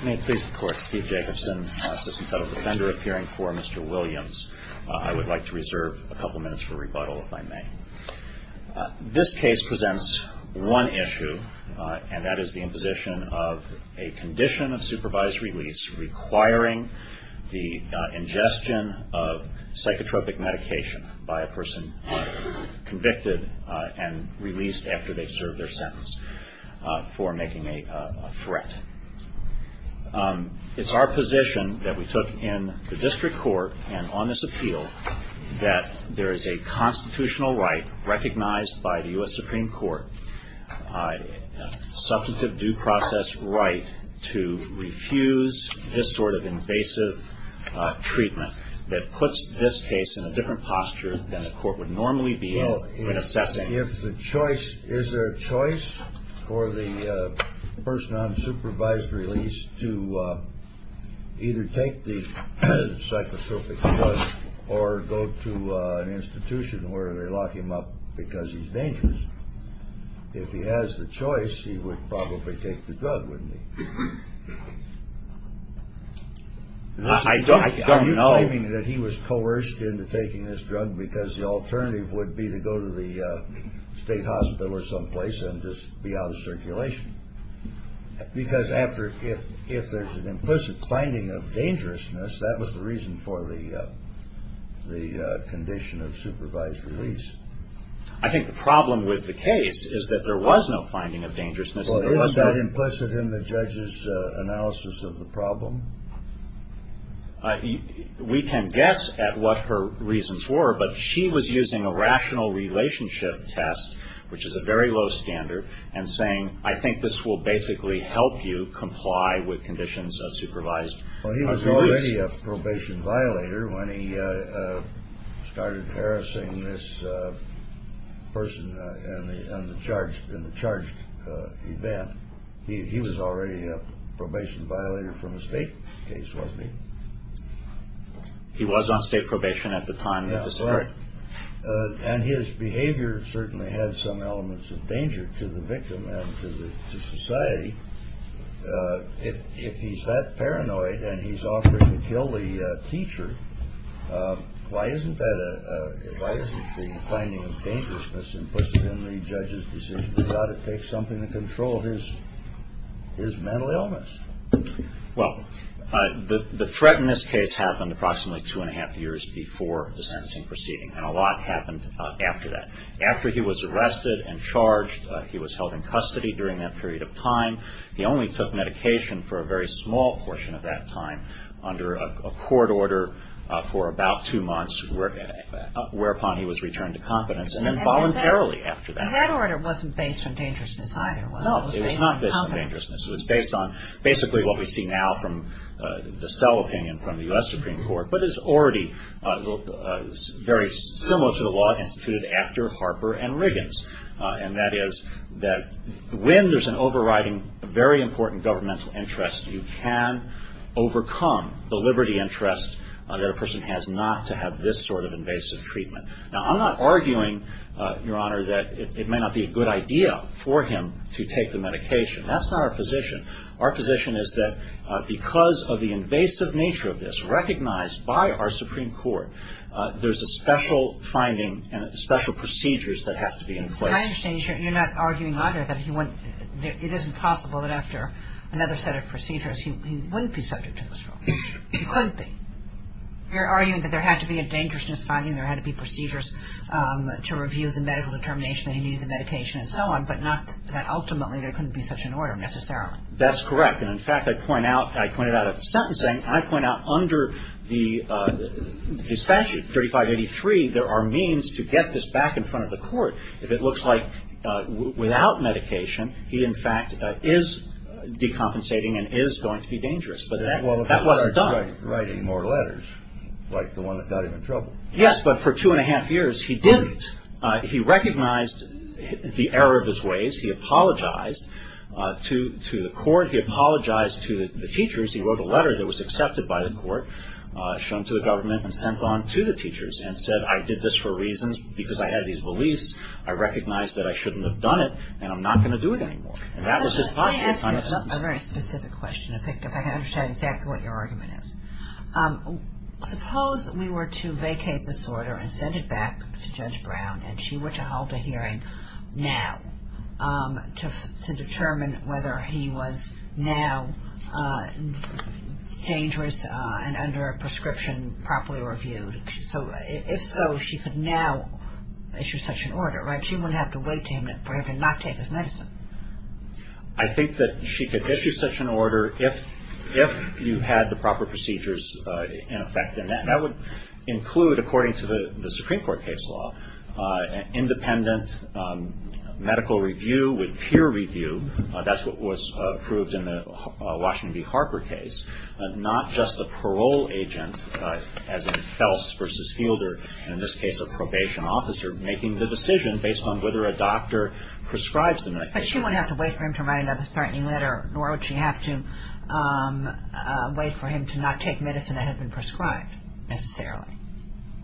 I would like to reserve a couple minutes for rebuttal if I may. This case presents one issue, and that is the imposition of a condition of supervised release requiring the ingestion of psychotropic medication by a person convicted and released after they've served their sentence for making a threat. It's our position that we took in the district court and on this appeal that there is a constitutional right recognized by the U.S. Supreme Court, substantive due process right, to refuse this sort of invasive treatment that puts this case in a different posture than the court would normally be in assessing it. If the choice, is there a choice for the person on supervised release to either take the psychotropic drug or go to an institution where they lock him up because he's dangerous? If he has the choice, he would probably take the drug, wouldn't he? I don't know. Are you claiming that he was coerced into taking this drug because the alternative would be to go to the state hospital or someplace and just be out of circulation? Because if there's an implicit finding of dangerousness, that was the reason for the condition of supervised release. I think the problem with the case is that there was no finding of dangerousness. Well, is that implicit in the judge's analysis of the problem? We can guess at what her reasons were, but she was using a rational relationship test, which is a very low standard, and saying, I think this will basically help you comply with conditions of supervised release. Well, he was already a probation violator when he started harassing this person in the charged event. He was already a probation violator from a state case, wasn't he? He was on state probation at the time. That's right. And his behavior certainly had some elements of danger to the victim and to society. If he's that paranoid and he's offering to kill the teacher, why isn't the finding of dangerousness implicit in the judge's decision to take something in control of his mental illness? Well, the threat in this case happened approximately two and a half years before the sentencing proceeding, and a lot happened after that. He was held in custody during that period of time. He only took medication for a very small portion of that time under a court order for about two months, whereupon he was returned to confidence, and then voluntarily after that. And that order wasn't based on dangerousness either, was it? No, it was not based on dangerousness. It was based on basically what we see now from the cell opinion from the U.S. Supreme Court, but is already very similar to the law instituted after Harper and Riggins, and that is that when there's an overriding very important governmental interest, you can overcome the liberty interest that a person has not to have this sort of invasive treatment. Now, I'm not arguing, Your Honor, that it may not be a good idea for him to take the medication. That's not our position. Our position is that because of the invasive nature of this recognized by our Supreme Court, there's a special finding and special procedures that have to be in place. I understand you're not arguing either that he wouldn't – it isn't possible that after another set of procedures he wouldn't be subject to this drug. He couldn't be. You're arguing that there had to be a dangerousness finding, there had to be procedures to review the medical determination that he needs the medication and so on, but not that ultimately there couldn't be such an order necessarily. That's correct. And, in fact, I point out – I point it out of sentencing. I point out under the statute, 3583, there are means to get this back in front of the court. If it looks like without medication, he, in fact, is decompensating and is going to be dangerous. But that was done. Well, if he started writing more letters like the one that got him in trouble. Yes, but for two and a half years he didn't. He recognized the error of his ways. He apologized to the court. He apologized to the teachers. He wrote a letter that was accepted by the court, shown to the government, and sent on to the teachers and said, I did this for reasons because I had these beliefs. I recognize that I shouldn't have done it and I'm not going to do it anymore. And that was his posture. Let me ask you a very specific question, if I can understand exactly what your argument is. Suppose we were to vacate this order and send it back to Judge Brown and she were to hold a hearing now to determine whether he was now dangerous and under a prescription properly reviewed. So if so, she could now issue such an order, right? She wouldn't have to wait for him to not take his medicine. I think that she could issue such an order if you had the proper procedures in effect. And that would include, according to the Supreme Court case law, independent medical review with peer review. That's what was approved in the Washington v. Harper case. Not just the parole agent, as in Fels versus Fielder, and in this case a probation officer making the decision based on whether a doctor prescribes the medication. But she wouldn't have to wait for him to write another threatening letter, nor would she have to wait for him to not take medicine that had been prescribed, necessarily.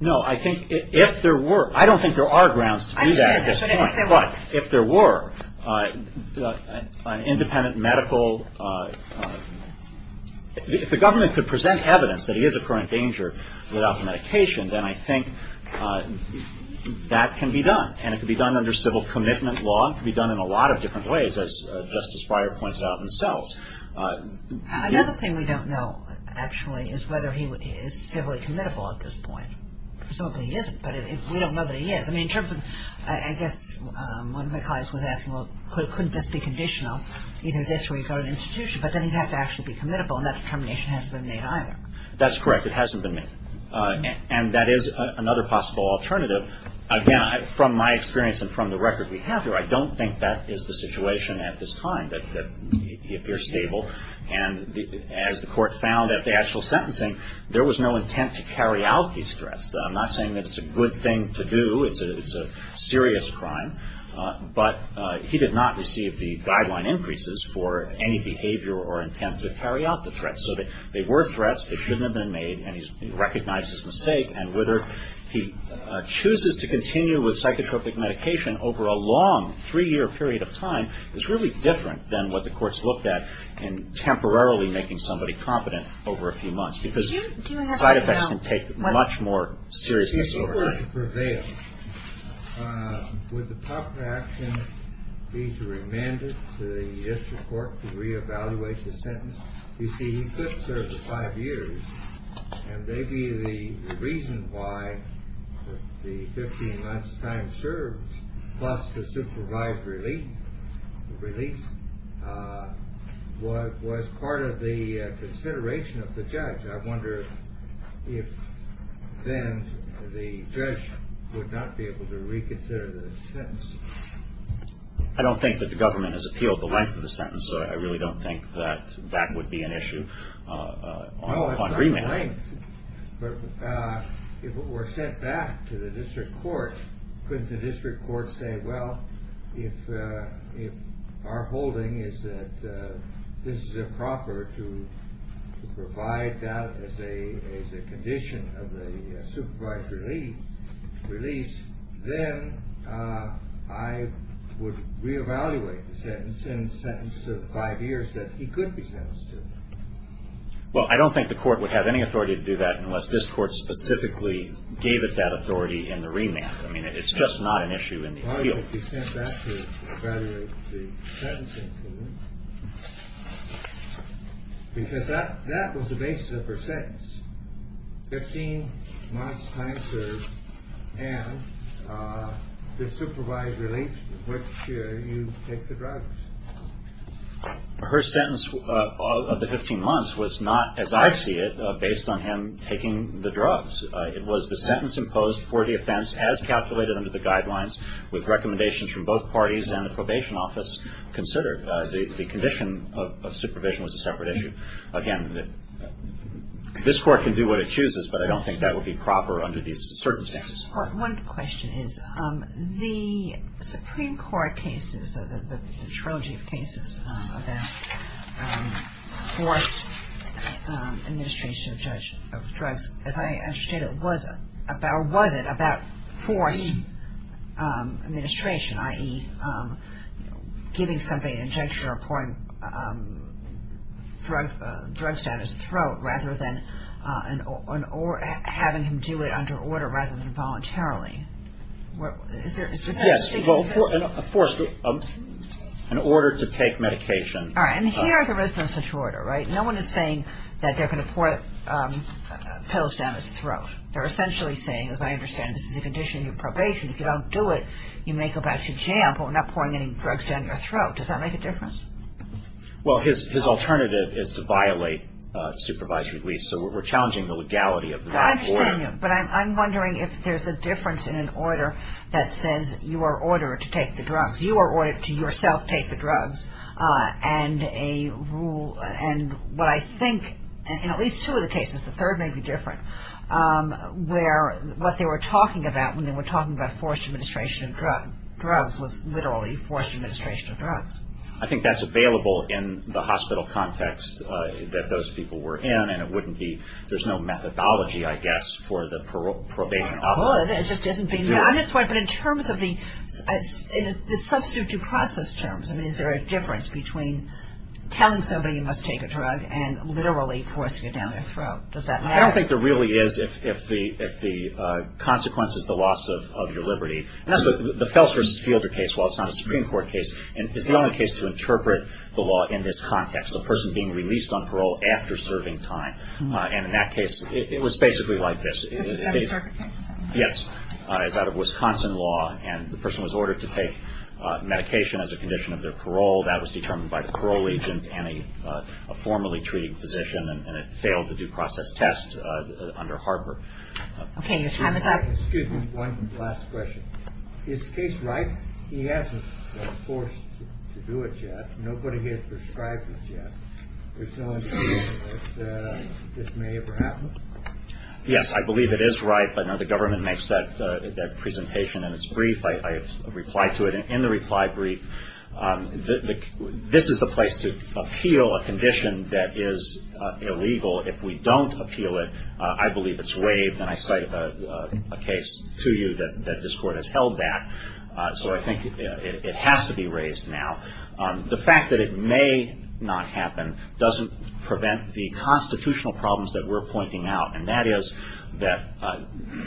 No, I think if there were, I don't think there are grounds to do that at this point. But if there were an independent medical, if the government could present evidence that he is a current danger without medication, then I think that can be done. And it could be done under civil commitment law. It could be done in a lot of different ways, as Justice Breyer points out himself. Another thing we don't know, actually, is whether he is civilly committable at this point. Presumably he isn't, but we don't know that he is. I mean, in terms of, I guess, one of my colleagues was asking, well, couldn't this be conditional, either this week or an institution? But then he'd have to actually be committable, and that determination hasn't been made either. That's correct. It hasn't been made. And that is another possible alternative. So, again, from my experience and from the record we have here, I don't think that is the situation at this time, that he appears stable. And as the Court found at the actual sentencing, there was no intent to carry out these threats. I'm not saying that it's a good thing to do. It's a serious crime. But he did not receive the guideline increases for any behavior or intent to carry out the threats. So they were threats. They shouldn't have been made. And he recognized his mistake. And whether he chooses to continue with psychotropic medication over a long three-year period of time is really different than what the courts looked at in temporarily making somebody competent over a few months. Because side effects can take much more serious disorder. If he were to prevail, would the proper action be to remand it to the district court to reevaluate the sentence? You see, he could serve five years. And maybe the reason why the 15 months' time served plus the supervised release was part of the consideration of the judge. I wonder if then the judge would not be able to reconsider the sentence. I don't think that the government has appealed the length of the sentence. I really don't think that that would be an issue on remand. No, it's not length. But if it were sent back to the district court, couldn't the district court say, Well, if our holding is that this is improper to provide that as a condition of the supervised release, then I would reevaluate the sentence in the sentence of five years that he could be sentenced to. Well, I don't think the court would have any authority to do that unless this court specifically gave it that authority in the remand. I mean, it's just not an issue in the appeal. Because that that was the basis of her sentence, 15 months' time served and the supervised release in which you take the drugs. Her sentence of the 15 months was not, as I see it, based on him taking the drugs. It was the sentence imposed for the offense as calculated under the guidelines, with recommendations from both parties and the probation office considered. The condition of supervision was a separate issue. Again, this Court can do what it chooses, but I don't think that would be proper under these certain standards. One question is, the Supreme Court cases, the trilogy of cases about forced administration of drugs, as I understand it, was it about forced administration, i.e., giving somebody an injection or pouring drugs down his throat rather than having him do it under order rather than voluntarily? Yes, well, of course, an order to take medication. All right, and here there isn't such order, right? No one is saying that they're going to pour pills down his throat. They're essentially saying, as I understand it, this is a condition of probation. If you don't do it, you may go back to jail for not pouring any drugs down your throat. Does that make a difference? Well, his alternative is to violate supervised release, so we're challenging the legality of that order. I understand you, but I'm wondering if there's a difference in an order that says you are ordered to take the drugs. You are ordered to yourself take the drugs. And a rule, and what I think, in at least two of the cases, the third may be different, where what they were talking about when they were talking about forced administration of drugs was literally forced administration of drugs. I think that's available in the hospital context that those people were in, and there's no methodology, I guess, for the probation officer. Well, it just isn't being done. But in terms of the substitute process terms, is there a difference between telling somebody you must take a drug and literally forcing it down their throat? Does that matter? I don't think there really is if the consequence is the loss of your liberty. The Felser v. Fielder case, while it's not a Supreme Court case, is the only case to interpret the law in this context, the person being released on parole after serving time. And in that case, it was basically like this. Is this an interpretation? Yes. It's out of Wisconsin law, and the person was ordered to take medication as a condition of their parole. That was determined by the parole agent and a formerly treated physician, and it failed the due process test under Harper. Okay. Your time is up. Excuse me. One last question. Is the case ripe? He hasn't been forced to do it yet. Nobody has prescribed it yet. There's no indication that this may ever happen? Yes. I believe it is ripe. I know the government makes that presentation, and it's brief. I reply to it. In the reply brief, this is the place to appeal a condition that is illegal. If we don't appeal it, I believe it's waived, and I cite a case to you that this Court has held that. So I think it has to be raised now. The fact that it may not happen doesn't prevent the constitutional problems that we're pointing out, and that is that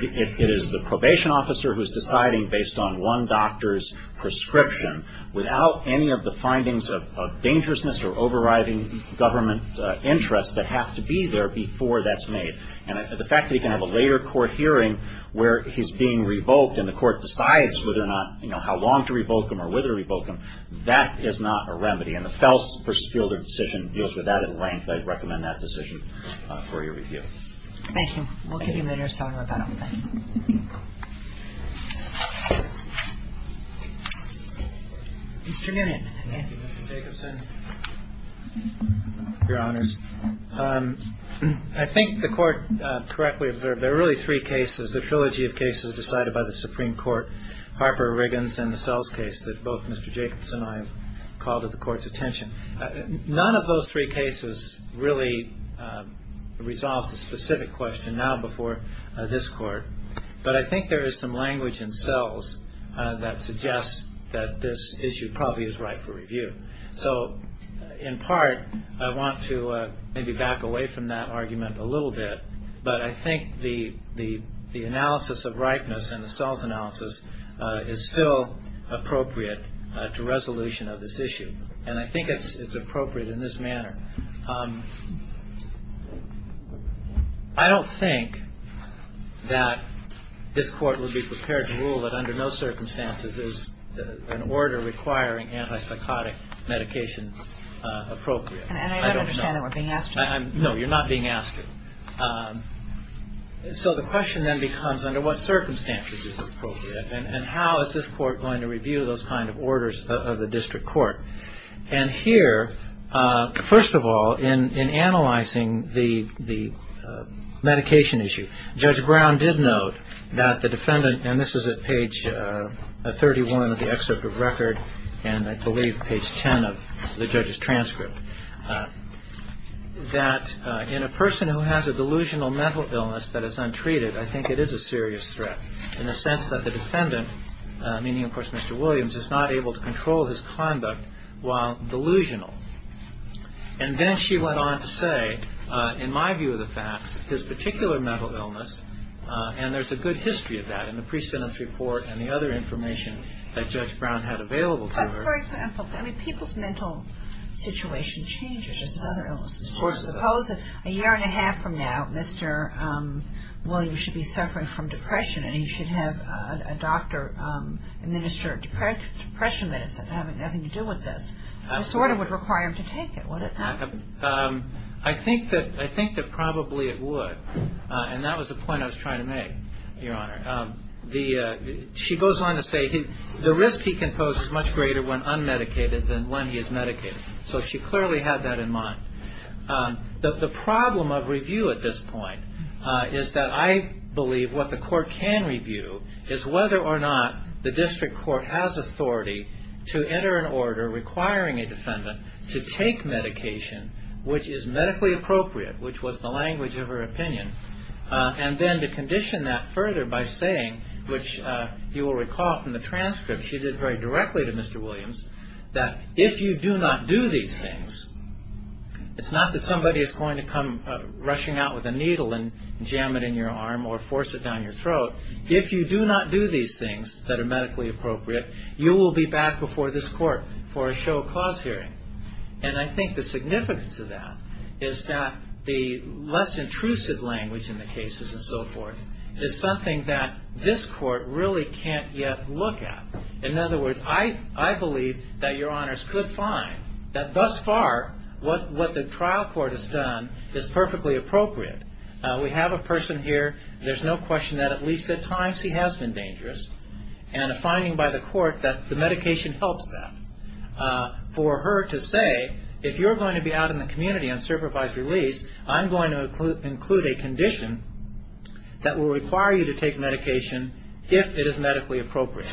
it is the probation officer who is deciding based on one doctor's prescription, without any of the findings of dangerousness or overriding government interests that have to be there before that's made. And the fact that he can have a later court hearing where he's being revoked and the Court decides whether or not, you know, how long to revoke him or whether to revoke him, that is not a remedy. And the Fels versus Fielder decision deals with that at length. I'd recommend that decision for your review. Thank you. We'll give you a minute to talk about that. Mr. Newman. Thank you, Mr. Jacobson. Your Honors. I think the Court correctly observed there are really three cases, the trilogy of cases decided by the Supreme Court, Harper-Riggins and the Fels case, that both Mr. Jacobson and I have called to the Court's attention. None of those three cases really resolves the specific question now before this Court. But I think there is some language in Fels that suggests that this issue probably is right for review. So, in part, I want to maybe back away from that argument a little bit, but I think the analysis of rightness in the Fels analysis is still appropriate to resolution of this issue. And I think it's appropriate in this manner. I don't think that this Court would be prepared to rule that under no circumstances is an order requiring antipsychotic medication appropriate. And I don't understand that we're being asked to. No, you're not being asked to. So the question then becomes under what circumstances is it appropriate and how is this Court going to review those kind of orders of the district court? And here, first of all, in analyzing the medication issue, Judge Brown did note that the defendant, and this is at page 31 of the excerpt of record and I believe page 10 of the judge's transcript, that in a person who has a delusional mental illness that is untreated, I think it is a serious threat in the sense that the defendant, meaning, of course, Mr. Williams, is not able to control his conduct while delusional. And then she went on to say, in my view of the facts, his particular mental illness, and there's a good history of that in the precedence report and the other information that Judge Brown had available to her. But, for example, I mean, people's mental situation changes. Of course it does. Suppose a year and a half from now, Mr. Williams should be suffering from depression and he should have a doctor administer depression medicine having nothing to do with this. This order would require him to take it. Would it not? I think that probably it would. And that was the point I was trying to make, Your Honor. She goes on to say the risk he can pose is much greater when unmedicated than when he is medicated. So she clearly had that in mind. The problem of review at this point is that I believe what the court can review is whether or not the district court has authority to enter an order requiring a defendant to take medication which is medically appropriate, which was the language of her opinion, and then to condition that further by saying, which you will recall from the transcript she did very directly to Mr. Williams, that if you do not do these things, it's not that somebody is going to come rushing out with a needle and jam it in your arm or force it down your throat. If you do not do these things that are medically appropriate, you will be back before this court for a show of cause hearing. And I think the significance of that is that the less intrusive language in the cases and so forth is something that this court really can't yet look at. In other words, I believe that Your Honors could find that thus far what the trial court has done is perfectly appropriate. We have a person here. There's no question that at least at times he has been dangerous, and a finding by the court that the medication helps that. For her to say, if you're going to be out in the community on supervised release, I'm going to include a condition that will require you to take medication if it is medically appropriate.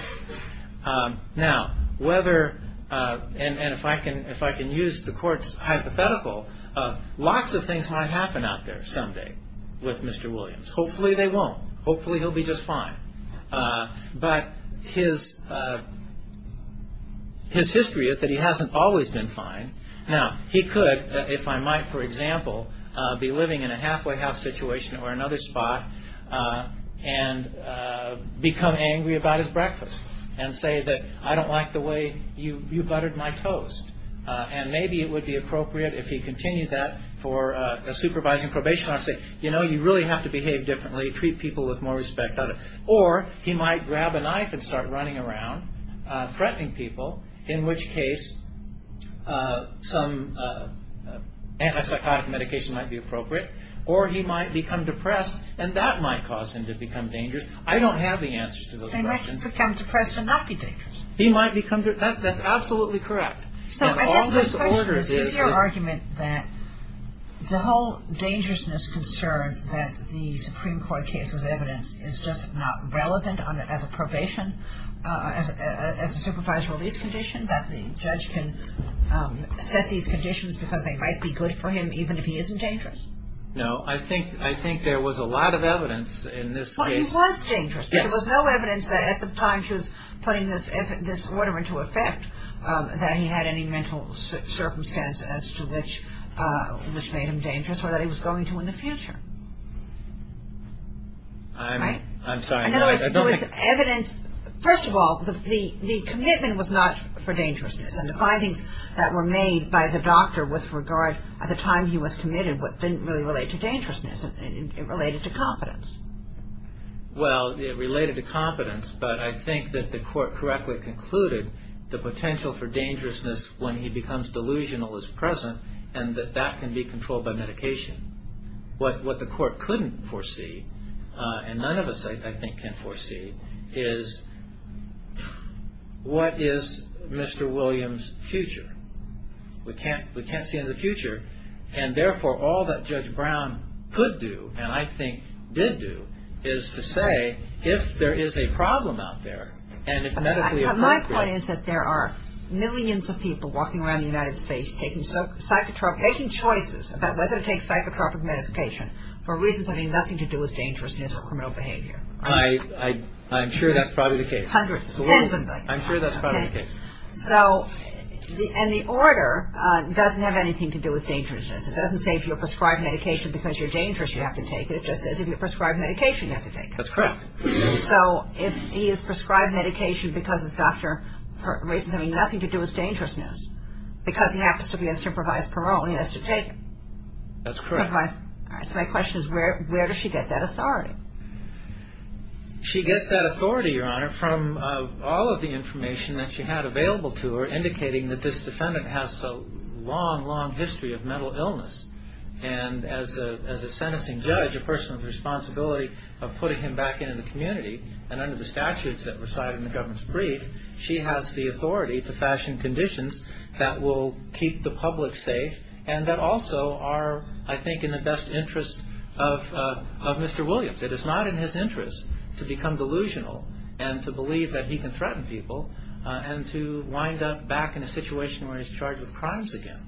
Now, whether, and if I can use the court's hypothetical, lots of things might happen out there someday with Mr. Williams. Hopefully they won't. Hopefully he'll be just fine. But his history is that he hasn't always been fine. Now, he could, if I might, for example, be living in a halfway house situation or another spot and become angry about his breakfast and say that I don't like the way you buttered my toast. And maybe it would be appropriate if he continued that for a supervising probation officer. You know, you really have to behave differently, treat people with more respect. Or he might grab a knife and start running around threatening people, in which case some antipsychotic medication might be appropriate. Or he might become depressed, and that might cause him to become dangerous. I don't have the answers to those questions. They might become depressed and not be dangerous. That's absolutely correct. So is your argument that the whole dangerousness concern that the Supreme Court case has evidenced is just not relevant as a probation, as a supervised release condition, that the judge can set these conditions because they might be good for him even if he isn't dangerous? No. I think there was a lot of evidence in this case. Well, he was dangerous. Yes. There was no evidence that at the time she was putting this order into effect that he had any mental circumstances as to which made him dangerous or that he was going to in the future. I'm sorry. I don't think. There was evidence. First of all, the commitment was not for dangerousness, and the findings that were made by the doctor with regard at the time he was committed didn't really relate to dangerousness. It related to competence. Well, it related to competence, but I think that the court correctly concluded the potential for dangerousness when he becomes delusional is present and that that can be controlled by medication. What the court couldn't foresee, and none of us, I think, can foresee, is what is Mr. Williams' future. We can't see into the future, and therefore all that Judge Brown could do, and I think did do, is to say if there is a problem out there and if medically appropriate. My point is that there are millions of people walking around the United States making choices about whether to take psychotropic medication for reasons having nothing to do with dangerousness or criminal behavior. I'm sure that's probably the case. Hundreds, tens of them. I'm sure that's probably the case. And the order doesn't have anything to do with dangerousness. It doesn't say if you're prescribed medication because you're dangerous, you have to take it. It just says if you're prescribed medication, you have to take it. That's correct. So if he is prescribed medication because his doctor, for reasons having nothing to do with dangerousness, because he happens to be on supervised parole, he has to take it. That's correct. So my question is where does she get that authority? She gets that authority, Your Honor, from all of the information that she had available to her indicating that this defendant has a long, long history of mental illness. And as a sentencing judge, a person with the responsibility of putting him back into the community, and under the statutes that reside in the government's brief, she has the authority to fashion conditions that will keep the public safe and that also are, I think, in the best interest of Mr. Williams. It is not in his interest to become delusional and to believe that he can threaten people and to wind up back in a situation where he's charged with crimes again.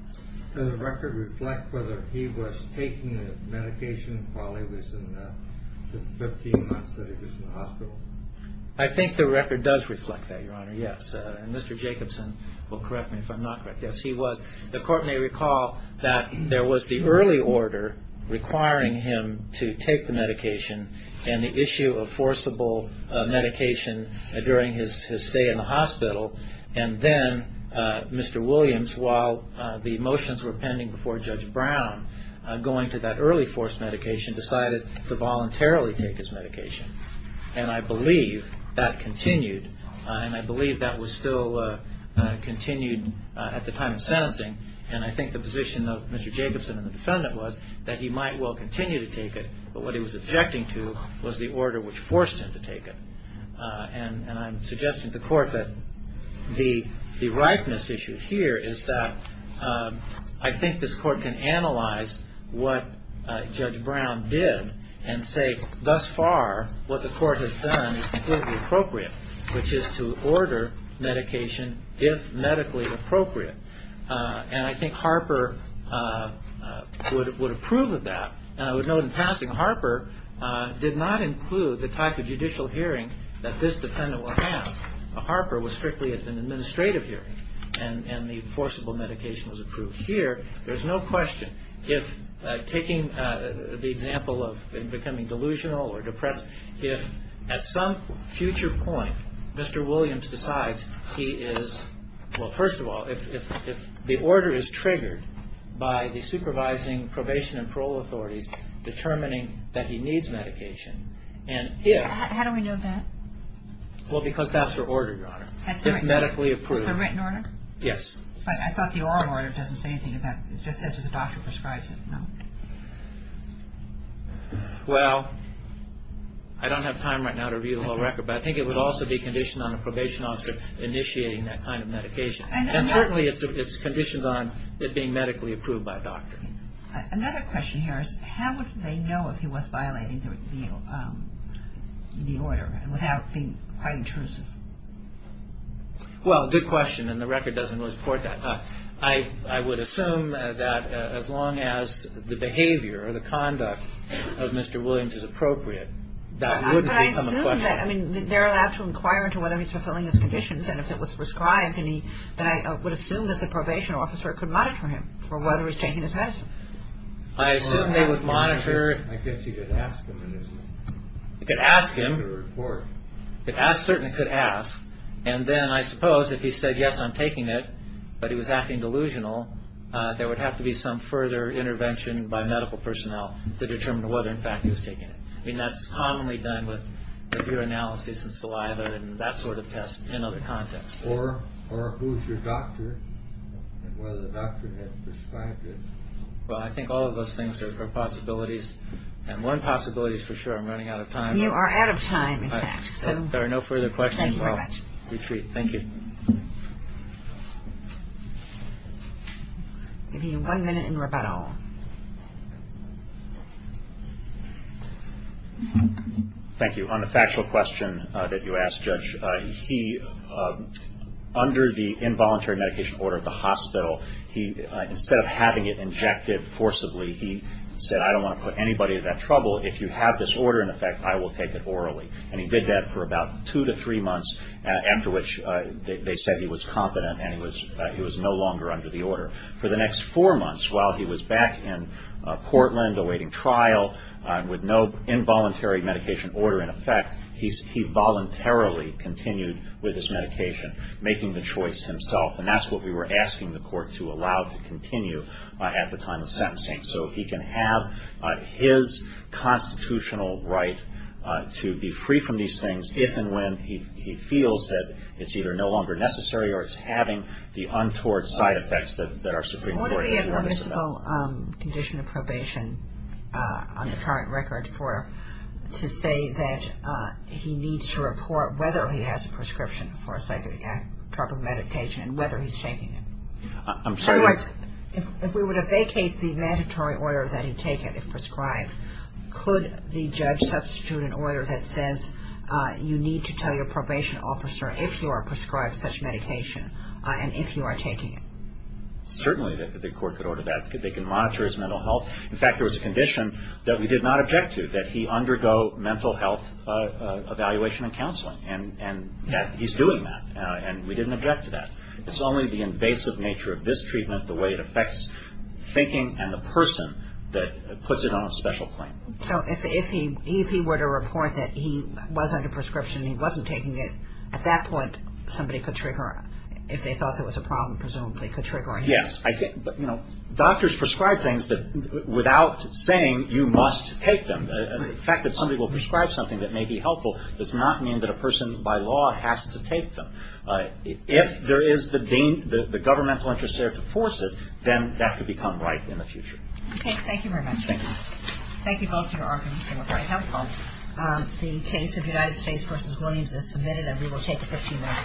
Does the record reflect whether he was taking the medication while he was in the 15 months that he was in the hospital? I think the record does reflect that, Your Honor, yes. And Mr. Jacobson will correct me if I'm not correct. Yes, he was. The court may recall that there was the early order requiring him to take the medication and the issue of forcible medication during his stay in the hospital. And then Mr. Williams, while the motions were pending before Judge Brown, going to that early forced medication, decided to voluntarily take his medication. And I believe that continued. And I believe that was still continued at the time of sentencing. And I think the position of Mr. Jacobson and the defendant was that he might well continue to take it, but what he was objecting to was the order which forced him to take it. And I'm suggesting to the court that the ripeness issue here is that I think this court can analyze what Judge Brown did and say thus far what the court has done is completely appropriate, which is to order medication if medically appropriate. And I think Harper would approve of that. And I would note in passing, Harper did not include the type of judicial hearing that this defendant will have. Harper was strictly at an administrative hearing, and the forcible medication was approved here. There's no question if taking the example of becoming delusional or depressed, if at some future point Mr. Williams decides he is – well, first of all, if the order is triggered by the supervising probation and parole authorities determining that he needs medication, and if – How do we know that? Well, because that's the order, Your Honor, if medically approved. That's the written order? Yes. But I thought the oral order doesn't say anything about – it just says that the doctor prescribes it, no? Well, I don't have time right now to review the whole record, but I think it would also be conditioned on the probation officer initiating that kind of medication. And certainly it's conditioned on it being medically approved by a doctor. Another question here is how would they know if he was violating the order without being quite intrusive? Well, good question, and the record doesn't really support that. I would assume that as long as the behavior or the conduct of Mr. Williams is appropriate, that wouldn't become a question. But I assume that – I mean, they're allowed to inquire into whether he's fulfilling his conditions, and if it was prescribed, then I would assume that the probation officer could monitor him for whether he's taking his medicine. I assume they would monitor – I guess you could ask him. You could ask him. Certainly could ask. And then I suppose if he said, yes, I'm taking it, but he was acting delusional, there would have to be some further intervention by medical personnel to determine whether, in fact, he was taking it. I mean, that's commonly done with a few analyses and saliva and that sort of test in other contexts. Or who's your doctor and whether the doctor had prescribed it. Well, I think all of those things are possibilities, and one possibility is for sure I'm running out of time. You are out of time, in fact. If there are no further questions, we'll retreat. Thank you. I'll give you one minute in rebuttal. Thank you. On the factual question that you asked, Judge, he – under the involuntary medication order at the hospital, instead of having it injected forcibly, he said, I don't want to put anybody in that trouble. If you have this order in effect, I will take it orally. And he did that for about two to three months, after which they said he was competent and he was no longer under the order. For the next four months, while he was back in Portland awaiting trial, with no involuntary medication order in effect, he voluntarily continued with his medication, making the choice himself. And that's what we were asking the court to allow to continue at the time of sentencing. So he can have his constitutional right to be free from these things if and when he feels that it's either no longer necessary or it's having the untoward side effects that our Supreme Court has warned us about. What are we at the municipal condition of probation, on the current record, to say that he needs to report whether he has a prescription for a psychotropic medication and whether he's taking it? I'm sorry. In other words, if we were to vacate the mandatory order that he take it, if prescribed, could the judge substitute an order that says you need to tell your probation officer if you are prescribed such medication and if you are taking it? Certainly, the court could order that. They can monitor his mental health. In fact, there was a condition that we did not object to, that he undergo mental health evaluation and counseling, and that he's doing that, and we didn't object to that. It's only the invasive nature of this treatment, the way it affects thinking, and the person that puts it on a special claim. So if he were to report that he was under prescription and he wasn't taking it, at that point somebody could trigger, if they thought there was a problem, presumably, could trigger a hearing. Yes. Doctors prescribe things without saying you must take them. The fact that somebody will prescribe something that may be helpful does not mean that a person, by law, has to take them. If there is the governmental interest there to force it, then that could become right in the future. Okay. Thank you very much. Thank you. Thank you both for your arguments. They were very helpful. The case of United States v. Williams is submitted, and we will take it 15 minutes. Thank you very much.